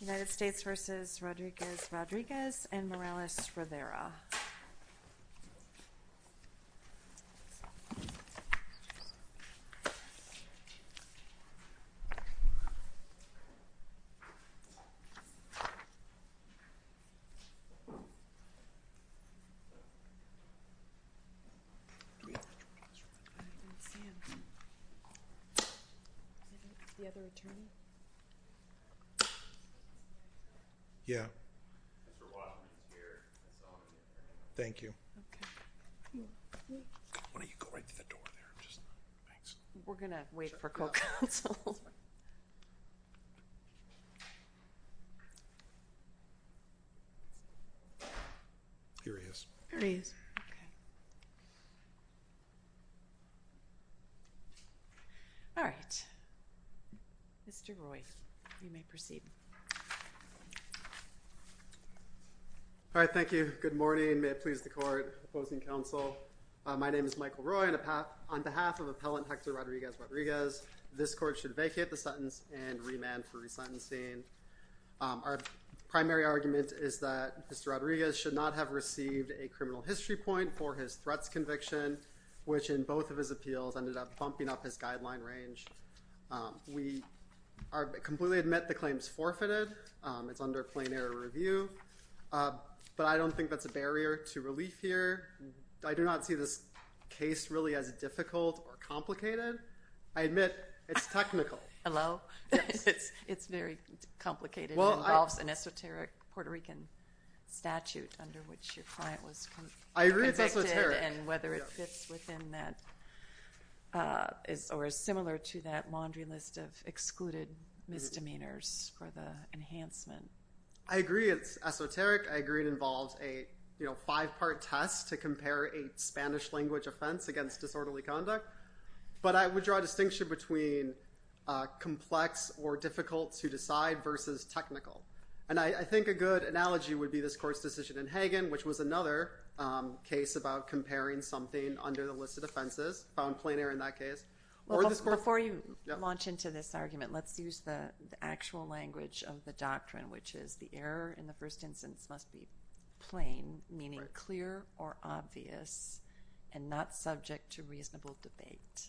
United States v. Rodriguez-Rodriguez and Morales Rivera Yeah. Thank you. Why don't you go right to the door there? Thanks. We're going to wait for co-counsel. Here he is. Here he is. Okay. All right. All right. Mr. Roy, you may proceed. All right. Thank you. Good morning. May it please the Court. Opposing counsel. My name is Michael Roy. On behalf of Appellant Hector Rodriguez-Rodriguez, this Court should vacate the sentence and remand for resentencing. Our primary argument is that Mr. Rodriguez should not have received a criminal history point for his threats conviction, which in both of his appeals ended up bumping up his guideline range. We completely admit the claim is forfeited. It's under plain error review, but I don't think that's a barrier to relief here. I do not see this case really as difficult or complicated. I admit it's technical. Hello? It's very complicated. It involves an esoteric Puerto Rican statute under which your client was convicted. I agree it's esoteric. And whether it fits within that or is similar to that laundry list of excluded misdemeanors for the enhancement. I agree it's esoteric. I agree it involves a five-part test to compare a Spanish language offense against disorderly conduct. But I would draw a distinction between complex or difficult to decide versus technical. And I think a good analogy would be this Court's decision in Hagen, which was another case about comparing something under the list of offenses, found plain error in that case. Before you launch into this argument, let's use the actual language of the doctrine, which is the error in the first instance must be plain, meaning clear or obvious, and not subject to reasonable debate.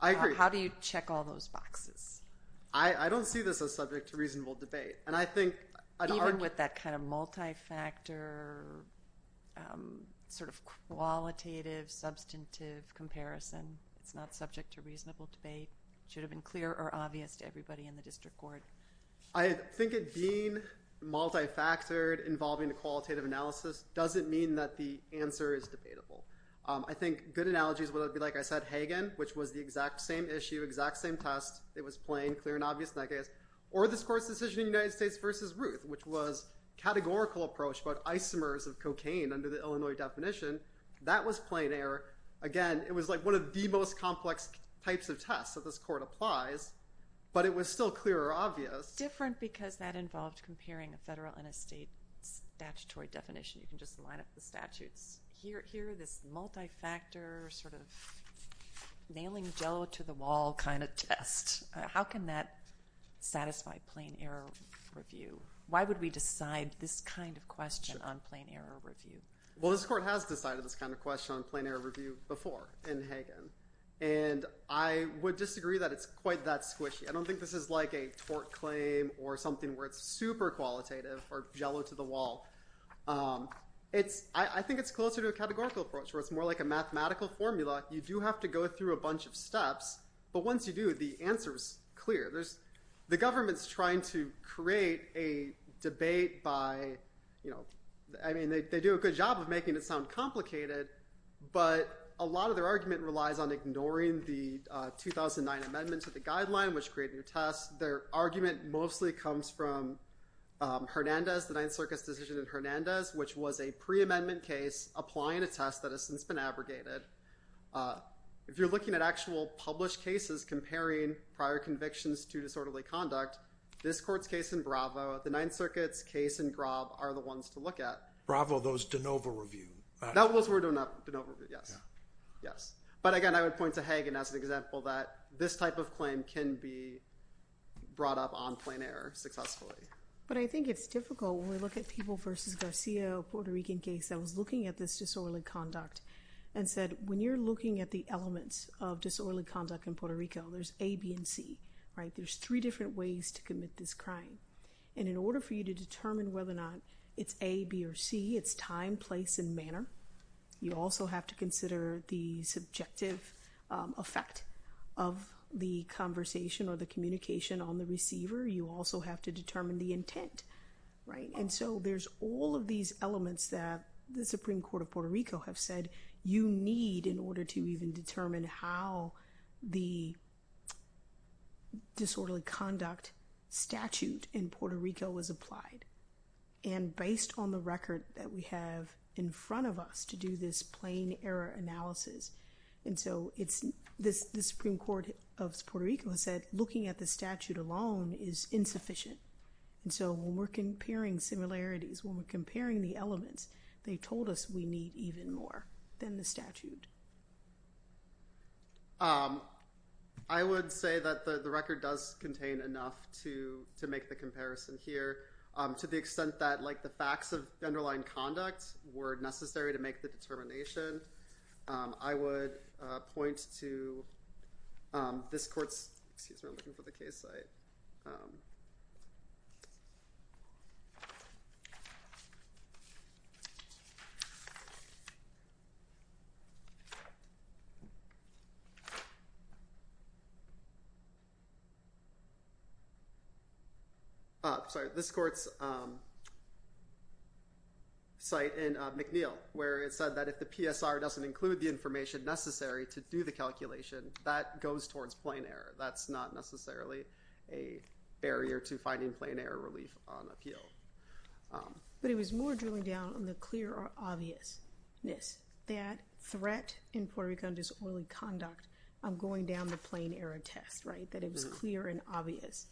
I agree. How do you check all those boxes? I don't see this as subject to reasonable debate. Even with that kind of multi-factor, sort of qualitative, substantive comparison, it's not subject to reasonable debate. It should have been clear or obvious to everybody in the district court. I think it being multi-factored involving a qualitative analysis doesn't mean that the answer is debatable. I think good analogies would be, like I said, Hagen, which was the exact same issue, exact same test. It was plain, clear, and obvious in that case. Or this Court's decision in the United States versus Ruth, which was a categorical approach about isomers of cocaine under the Illinois definition. That was plain error. Again, it was like one of the most complex types of tests that this Court applies, but it was still clear or obvious. Different because that involved comparing a federal and a state statutory definition. You can just line up the statutes. Here, this multi-factor, sort of nailing Jell-O to the wall kind of test. How can that satisfy plain error review? Why would we decide this kind of question on plain error review? Well, this Court has decided this kind of question on plain error review before in Hagen. I would disagree that it's quite that squishy. I don't think this is like a tort claim or something where it's super qualitative or Jell-O to the wall. I think it's closer to a categorical approach where it's more like a mathematical formula. You do have to go through a bunch of steps, but once you do, the answer is clear. The government's trying to create a debate by—I mean, they do a good job of making it sound complicated, but a lot of their argument relies on ignoring the 2009 Amendment to the Guideline, which created new tests. Their argument mostly comes from Hernandez, the Ninth Circuit's decision in Hernandez, which was a pre-amendment case applying a test that has since been abrogated. If you're looking at actual published cases comparing prior convictions to disorderly conduct, this Court's case in Bravo, the Ninth Circuit's case in Grob are the ones to look at. Bravo, those de novo review. Those were de novo, yes. But again, I would point to Hagen as an example that this type of claim can be brought up on plain error successfully. But I think it's difficult when we look at people versus Garcia, a Puerto Rican case that was looking at this disorderly conduct and said, when you're looking at the elements of disorderly conduct in Puerto Rico, there's A, B, and C. There's three different ways to commit this crime. And in order for you to determine whether or not it's A, B, or C, it's time, place, and manner. You also have to consider the subjective effect of the conversation or the communication on the receiver. You also have to determine the intent. And so there's all of these elements that the Supreme Court of Puerto Rico have said you need in order to even determine how the disorderly conduct statute in Puerto Rico was applied. And based on the record that we have in front of us to do this plain error analysis, and so the Supreme Court of Puerto Rico has said looking at the statute alone is insufficient. And so when we're comparing similarities, when we're comparing the elements, they told us we need even more than the statute. I would say that the record does contain enough to make the comparison here. To the extent that the facts of the underlying conduct were necessary to make the determination, I would point to this court's, excuse me, I'm looking for the case site. Sorry, this court's site in McNeil where it said that if the PSR doesn't include the information necessary to do the calculation, that goes towards plain error. That's not necessarily a barrier to finding plain error relief on appeal. But it was more drilling down on the clear obviousness that threat in Puerto Rican disorderly conduct, I'm going down the plain error test, right, that it was clear and obvious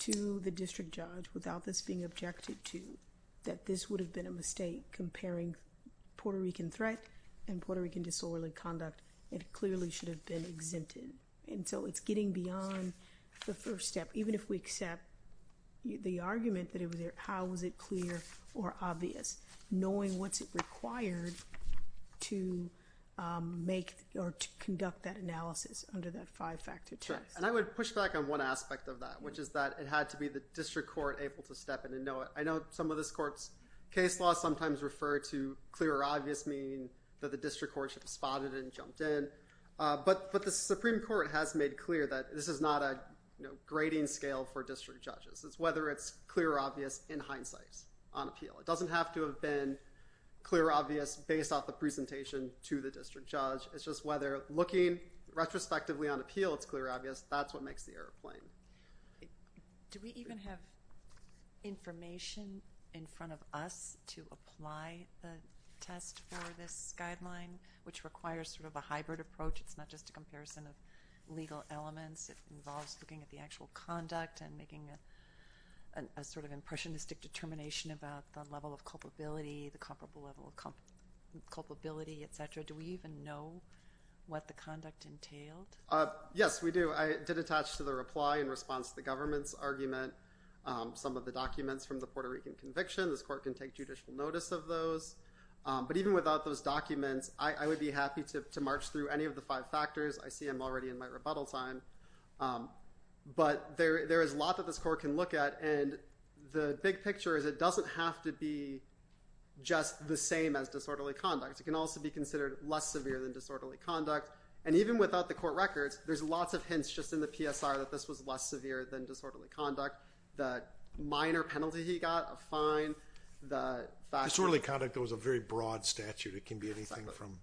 to the district judge without this being objective to, that this would have been a mistake comparing Puerto Rican threat and Puerto Rican disorderly conduct. It clearly should have been exempted. And so, it's getting beyond the first step. Even if we accept the argument that it was, how was it clear or obvious, knowing what's it required to make or to conduct that analysis under that five-factor test. And I would push back on one aspect of that, which is that it had to be the district court able to step in and know it. I know some of this court's case law sometimes refer to clear or obvious meaning that the Supreme Court has made clear that this is not a grading scale for district judges. It's whether it's clear or obvious in hindsight on appeal. It doesn't have to have been clear or obvious based off the presentation to the district judge. It's just whether looking retrospectively on appeal it's clear or obvious, that's what makes the error plain. Do we even have information in front of us to apply the test for this guideline, which requires sort of a hybrid approach? It's not just a comparison of legal elements. It involves looking at the actual conduct and making a sort of impressionistic determination about the level of culpability, the comparable level of culpability, et cetera. Do we even know what the conduct entailed? Yes, we do. I did attach to the reply in response to the government's argument some of the documents from the Puerto Rican conviction. This court can take judicial notice of those. But even without those documents, I would be happy to march through any of the five factors. I see I'm already in my rebuttal time. But there is a lot that this court can look at, and the big picture is it doesn't have to be just the same as disorderly conduct. It can also be considered less severe than disorderly conduct. And even without the court records, there's lots of hints just in the PSR that this was less severe than disorderly conduct. The minor penalty he got, a fine. Disorderly conduct was a very broad statute. It can be anything from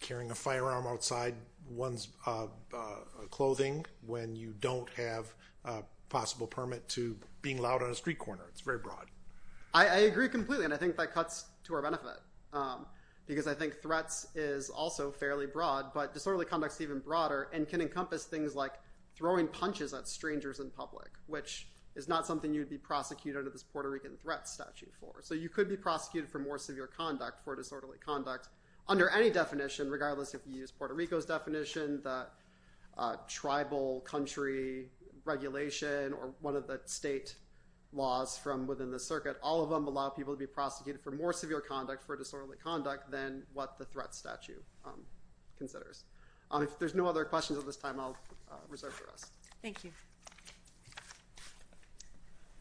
carrying a firearm outside one's clothing when you don't have a possible permit to being loud on a street corner. It's very broad. I agree completely, and I think that cuts to our benefit because I think threats is also fairly broad. But disorderly conduct is even broader and can encompass things like throwing punches at strangers in public, which is not something you would be prosecuted under this Puerto Rico statute for. So you could be prosecuted for more severe conduct for disorderly conduct under any definition regardless if you use Puerto Rico's definition, the tribal country regulation, or one of the state laws from within the circuit. All of them allow people to be prosecuted for more severe conduct for disorderly conduct than what the threat statute considers. If there's no other questions at this time, I'll reserve the rest. Thank you.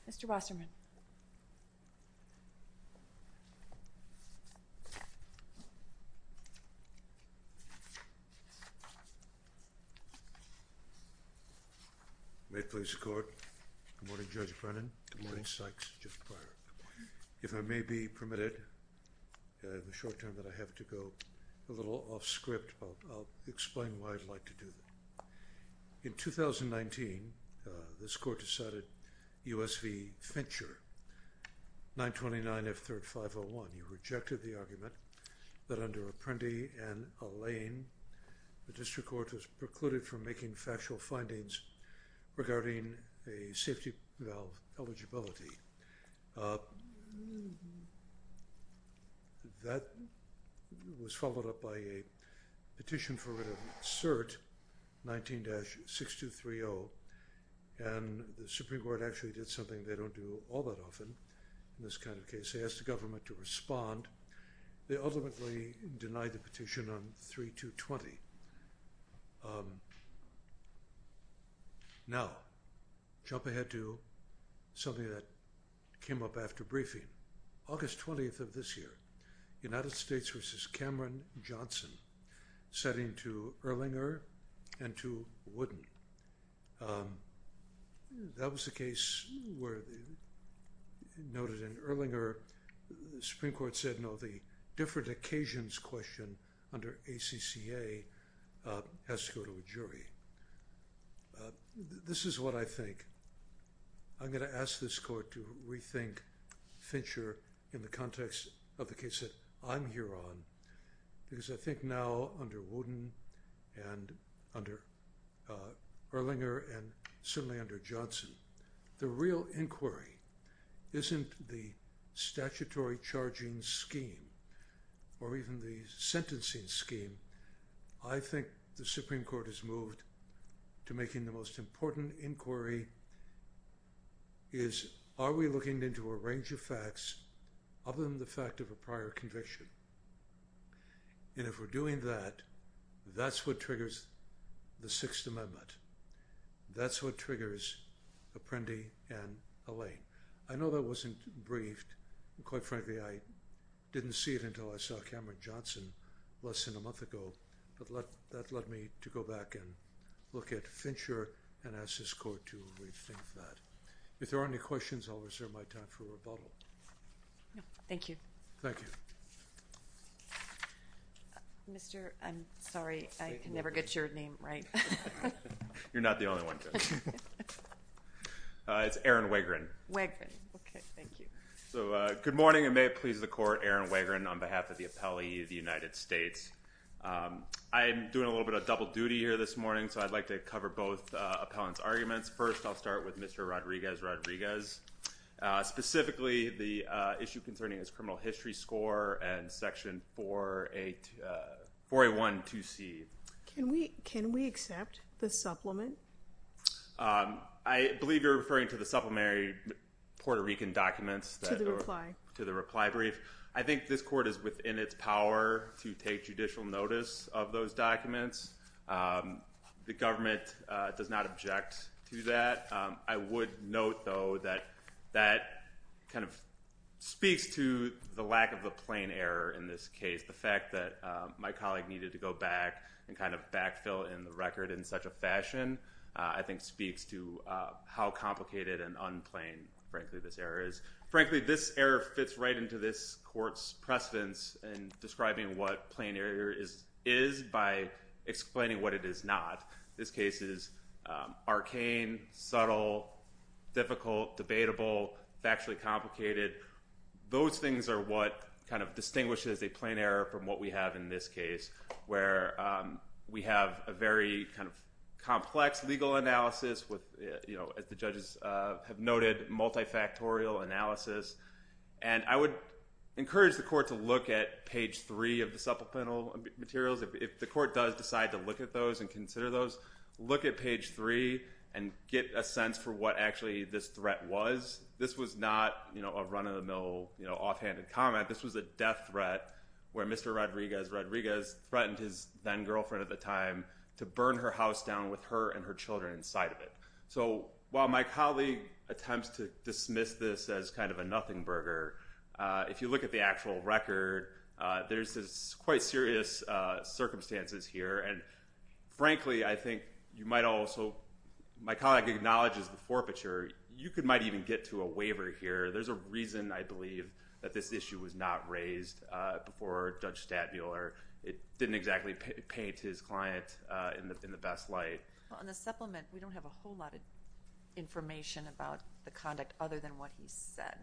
Mr. Wasserman. May it please the Court. Good morning, Judge Brennan. Good morning, Sykes. If I may be permitted in the short term that I have to go a little off script, I'll explain why I'd like to do that. In 2019, this Court decided U.S. v. Fincher, 929 F. 3rd 501. You rejected the argument that under Apprendi and Allain, the district court was precluded from making factual findings regarding a safety valve eligibility. That was followed up by a petition for a written cert, 19-6230, and the Supreme Court actually did something they don't do all that often in this kind of case. They asked the government to respond. They ultimately denied the petition on 3220. Now, jump ahead to something that came up after briefing. August 20th of this year, United States v. Cameron Johnson, setting to Erlinger and to Wooden. That was the case where, noted in Erlinger, the Supreme Court said, no, the different occasions question under ACCA has to go to a jury. This is what I think. I'm going to ask this Court to rethink Fincher in the context of the case that I'm here on because I think now under Wooden and under Erlinger and certainly under Johnson, the real inquiry isn't the statutory charging scheme or even the sentencing scheme. I think the Supreme Court has moved to making the most important inquiry is, are we looking into a range of facts other than the fact of a prior conviction? And if we're doing that, that's what triggers the Sixth Amendment. That's what triggers Apprendi and Allain. I know that wasn't briefed. Quite frankly, I didn't see it until I saw Cameron Johnson less than a month ago, but that led me to go back and look at Fincher and ask this Court to rethink that. If there are any questions, I'll reserve my time for rebuttal. Thank you. Thank you. Mr. I'm sorry. I can never get your name right. You're not the only one. It's Aaron Wegrin. Okay. Thank you. Good morning and may it please the Court. Aaron Wegrin on behalf of the appellee of the United States. I'm doing a little bit of double duty here this morning, so I'd like to cover both appellant's arguments. First, I'll start with Mr. Rodriguez-Rodriguez. Specifically, the issue concerning his criminal history score and Section 4A1-2C. Can we accept the supplement? I believe you're referring to the supplementary Puerto Rican documents. To the reply. To the reply brief. I think this Court is within its power to take judicial notice of those documents. The government does not object to that. I would note, though, that that kind of speaks to the lack of a plain error in this case. The fact that my colleague needed to go back and kind of backfill in the record in such a fashion, I think speaks to how complicated and unplanned, frankly, this error is. Frankly, this error fits right into this Court's precedence in describing what plain error is by explaining what it is not. This case is arcane, subtle, difficult, debatable, factually complicated. Those things are what kind of distinguishes a plain error from what we have in this case, where we have a very kind of complex legal analysis with, you know, as the judges have noted, multifactorial analysis. And I would encourage the Court to look at page 3 of the supplemental materials. If the Court does decide to look at those and consider those, look at page 3 and get a sense for what actually this threat was. This was not, you know, a run-of-the-mill, you know, offhanded comment. This was a death threat where Mr. Rodriguez, Rodriguez threatened his then-girlfriend at the time to burn her house down with her and her children inside of it. So while my colleague attempts to dismiss this as kind of a nothing burger, if you look at the actual record, there's quite serious circumstances here. And frankly, I think you might also—my colleague acknowledges the forfeiture. You might even get to a waiver here. There's a reason, I believe, that this issue was not raised before Judge Stadmuller. It didn't exactly paint his client in the best light. Well, in the supplement, we don't have a whole lot of information about the conduct other than what he said,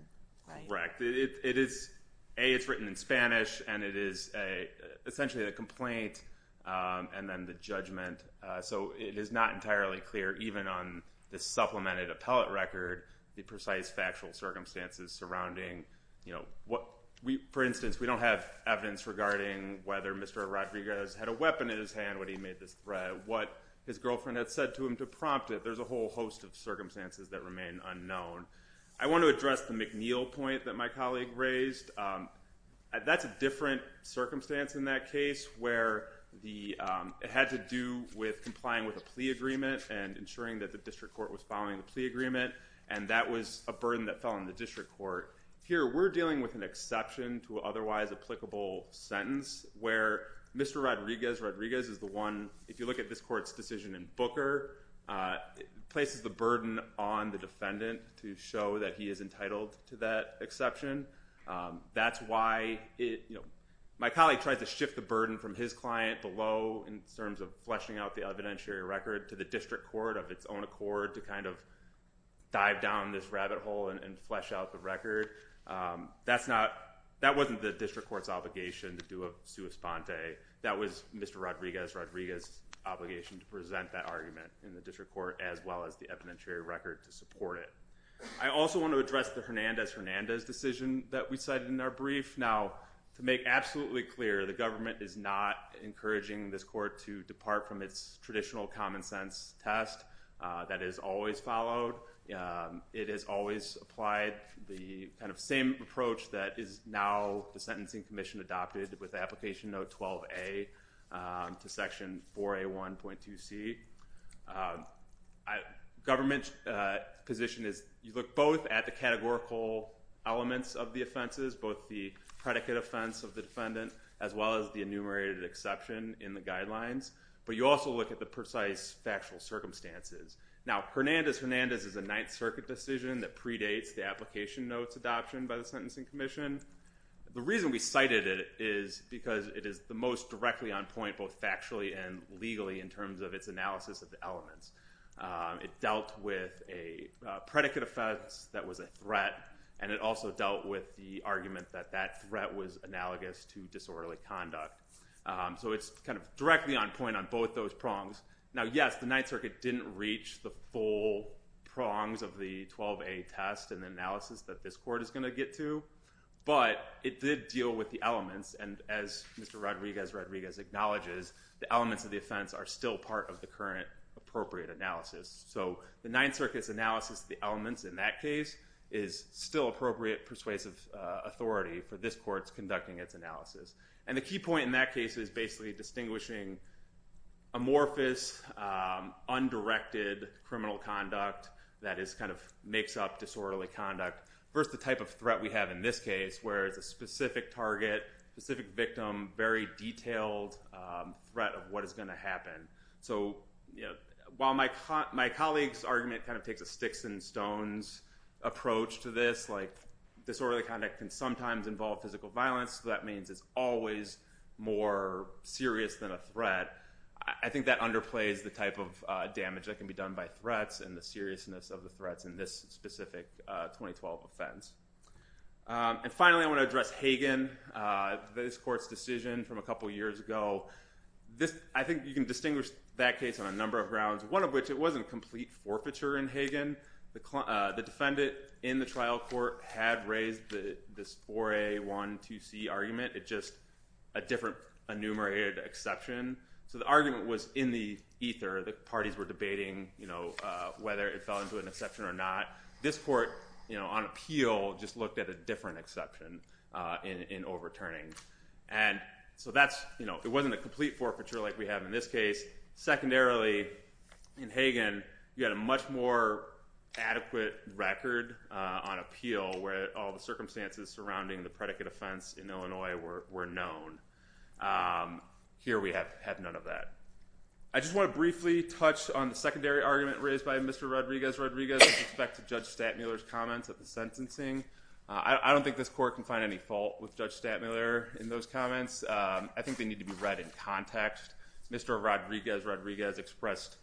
right? Correct. It is—A, it's written in Spanish and it is essentially a complaint and then the judgment. So it is not entirely clear, even on this supplemented appellate record, the precise factual circumstances surrounding, you know, what—for instance, we don't have evidence regarding whether Mr. Rodriguez had a weapon in his hand when he made this threat, what his girlfriend had said to him to prompt it. There's a whole host of circumstances that remain unknown. I want to address the McNeil point that my colleague raised. That's a different circumstance in that case where the—it had to do with complying with a plea agreement and ensuring that the district court was following the plea agreement and that was a burden that fell on the district court. Here, we're dealing with an exception to an otherwise applicable sentence where Mr. Rodriguez—Rodriguez is the one—if you look at this court's decision in Booker, it places the burden on the defendant to show that he is entitled to that exception. That's why, you know, my colleague tried to shift the burden from his client below in terms of fleshing out the evidentiary record to the district court of its own accord to kind of dive down this rabbit hole and flesh out the record. That's not—that wasn't the district court's obligation to do a sua sponte. That was Mr. Rodriguez—Rodriguez's obligation to present that argument in the district court as well as the evidentiary record to support it. I also want to address the Hernandez—Hernandez decision that we cited in our brief. Now, to make absolutely clear, the government is not encouraging this court to depart from its traditional common sense test that is always followed. It has always applied the kind of same approach that is now the sentencing commission adopted with application note 12A to section 4A1.2C. Government position is you look both at the categorical elements of the offenses, both the predicate offense of the defendant as well as the enumerated exception in the guidelines, but you also look at the precise factual circumstances. Now, Hernandez—Hernandez is a Ninth Circuit decision that predates the application notes adoption by the sentencing commission. The reason we cited it is because it is the most directly on point both factually and legally in terms of its analysis of the elements. It dealt with a predicate offense that was a threat, and it also dealt with the argument that that threat was analogous to disorderly conduct. So it's kind of directly on point on both those prongs. Now, yes, the Ninth Circuit didn't reach the full prongs of the 12A test and the analysis that this court is going to get to, but it did deal with the elements. And as Mr. Rodriguez—Rodriguez acknowledges, the elements of the offense are still part of the current appropriate analysis. So the Ninth Circuit's analysis of the elements in that case is still appropriate persuasive authority for this court's conducting its analysis. And the key point in that case is basically distinguishing amorphous, undirected criminal conduct that makes up disorderly conduct versus the type of threat we have in this case, where it's a specific target, specific victim, very detailed threat of what is going to happen. So while my colleague's argument takes a sticks and stones approach to this, like disorderly conduct can sometimes involve physical violence, so that means it's always more serious than a threat, I think that underplays the type of damage that can be done by threats and the seriousness of the threats in this specific 2012 offense. And finally, I want to address Hagen, this court's decision from a couple years ago. I think you can distinguish that case on a number of grounds, one of which it wasn't complete forfeiture in Hagen. The defendant in the trial court had raised this 4A, 1, 2C argument. It's just a different enumerated exception. So the argument was in the ether. The parties were debating whether it fell into an exception or not. This court, on appeal, just looked at a different exception in overturning. And so it wasn't a complete forfeiture like we have in this case. Secondarily, in Hagen, you had a much more adequate record on appeal where all the circumstances surrounding the predicate offense in Illinois were known. Here we have none of that. I just want to briefly touch on the secondary argument raised by Mr. Rodriguez-Rodriguez with respect to Judge Stattmuller's comments at the sentencing. I don't think this court can find any fault with Judge Stattmuller in those comments. I think they need to be read in context. Mr. Rodriguez-Rodriguez expressed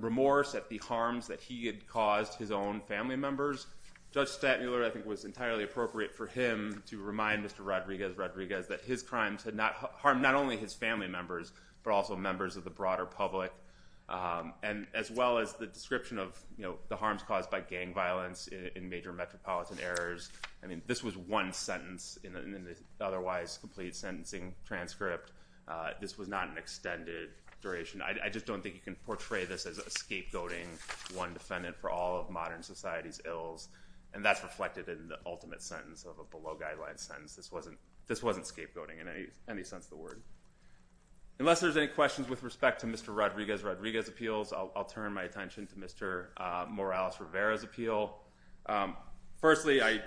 remorse at the harms that he had caused his own family members. Judge Stattmuller, I think, was entirely appropriate for him to remind Mr. Rodriguez-Rodriguez that his crimes had harmed not only his family members, but also members of the broader public, as well as the description of the harms caused by gang violence in major metropolitan areas. This was one sentence in an otherwise complete sentencing transcript. This was not an extended duration. I just don't think you can portray this as a scapegoating, one defendant for all of modern society's ills. And that's reflected in the ultimate sentence of a below-guideline sentence. This wasn't scapegoating in any sense of the word. Unless there's any questions with respect to Mr. Rodriguez-Rodriguez's appeals, I'll turn my attention to Mr. Morales-Rivera's appeal. Firstly, I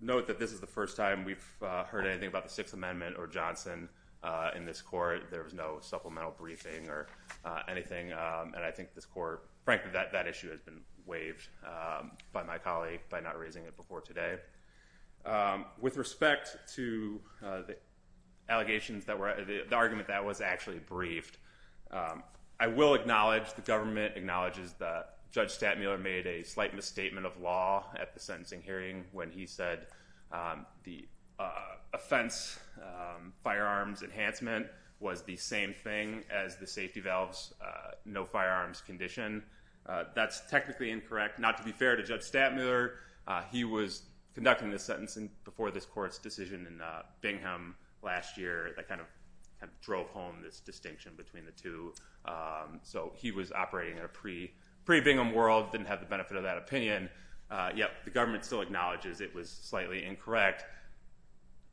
note that this is the first time we've heard anything about the Sixth Amendment or Johnson in this court. There was no supplemental briefing or anything. And I think this court, frankly, that issue has been waived by my colleague by not raising it before today. With respect to the argument that was actually briefed, I will acknowledge the government acknowledges that Judge Stattmuller made a slight misstatement of law at the sentencing hearing when he said the offense firearms enhancement was the same thing as the safety valves, no firearms condition. That's technically incorrect. Not to be fair to Judge Stattmuller, he was conducting this sentencing before this court's decision in Bingham last year that kind of drove home this distinction between the two. So he was operating in a pre-Bingham world, didn't have the benefit of that opinion. Yet the government still acknowledges it was slightly incorrect.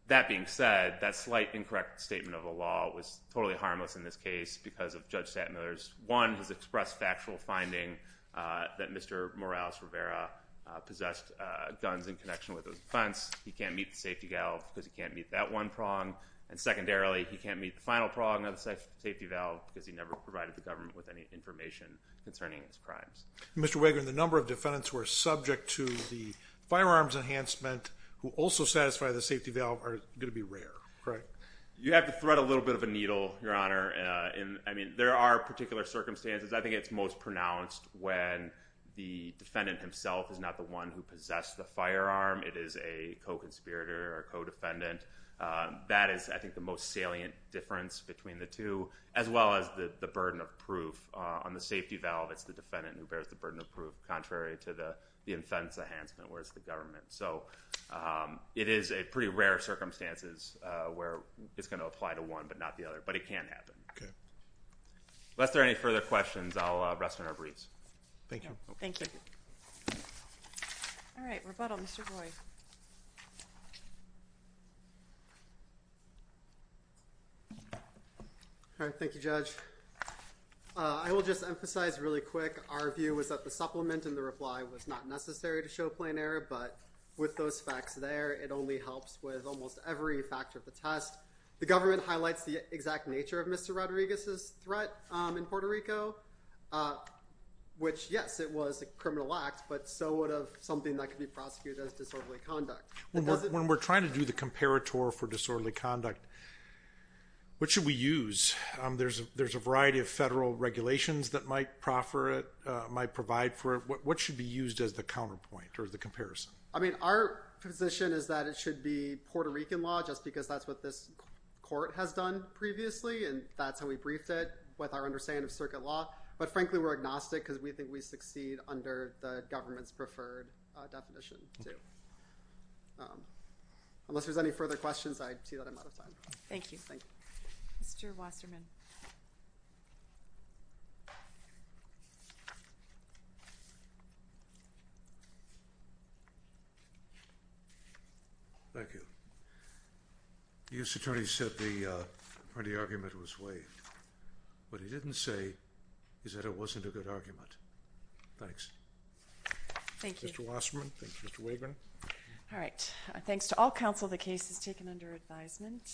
That being said, that slight incorrect statement of the law was totally harmless in this case because of Judge Stattmuller's, one, his expressed factual finding that Mr. Morales Rivera possessed guns in connection with his offense. He can't meet the safety valve because he can't meet that one prong. And secondarily, he can't meet the final prong of the safety valve because he never provided the government with any information concerning his crimes. Mr. Wagoner, the number of defendants who are subject to the firearms enhancement who also satisfy the safety valve are going to be rare, correct? You have to thread a little bit of a needle, Your Honor. I mean, there are particular circumstances. I think it's most pronounced when the defendant himself is not the one who possessed the firearm. It is a co-conspirator or co-defendant. That is, I think, the most salient difference between the two as well as the burden of proof. On the safety valve, it's the defendant who bears the burden of proof contrary to the offense enhancement where it's the government. So it is a pretty rare circumstances where it's going to apply to one but not the other. But it can happen. Okay. Unless there are any further questions, I'll rest on our briefs. Thank you. Thank you. All right. Rebuttal, Mr. Roy. All right. Thank you, Judge. I will just emphasize really quick. Our view is that the supplement and the reply was not necessary to show plain error. But with those facts there, it only helps with almost every factor of the test. The government highlights the exact nature of Mr. Rodriguez's threat in Puerto Rico, which, yes, it was a criminal act. But so would something that could be prosecuted as disorderly conduct. When we're trying to do the comparator for disorderly conduct, what should we use? There's a variety of federal regulations that might provide for it. What should be used as the counterpoint or the comparison? I mean, our position is that it should be Puerto Rican law just because that's what this court has done previously, and that's how we briefed it with our understanding of circuit law. But, frankly, we're agnostic because we think we succeed under the government's preferred definition too. Unless there's any further questions, I see that I'm out of time. Thank you. Thank you. Mr. Wasserman. Thank you. The U.S. Attorney said the argument was waived. What he didn't say is that it wasn't a good argument. Thanks. Thank you. Mr. Wasserman. Thank you. Mr. Waverman. All right. Thanks to all counsel, the case is taken under advisement.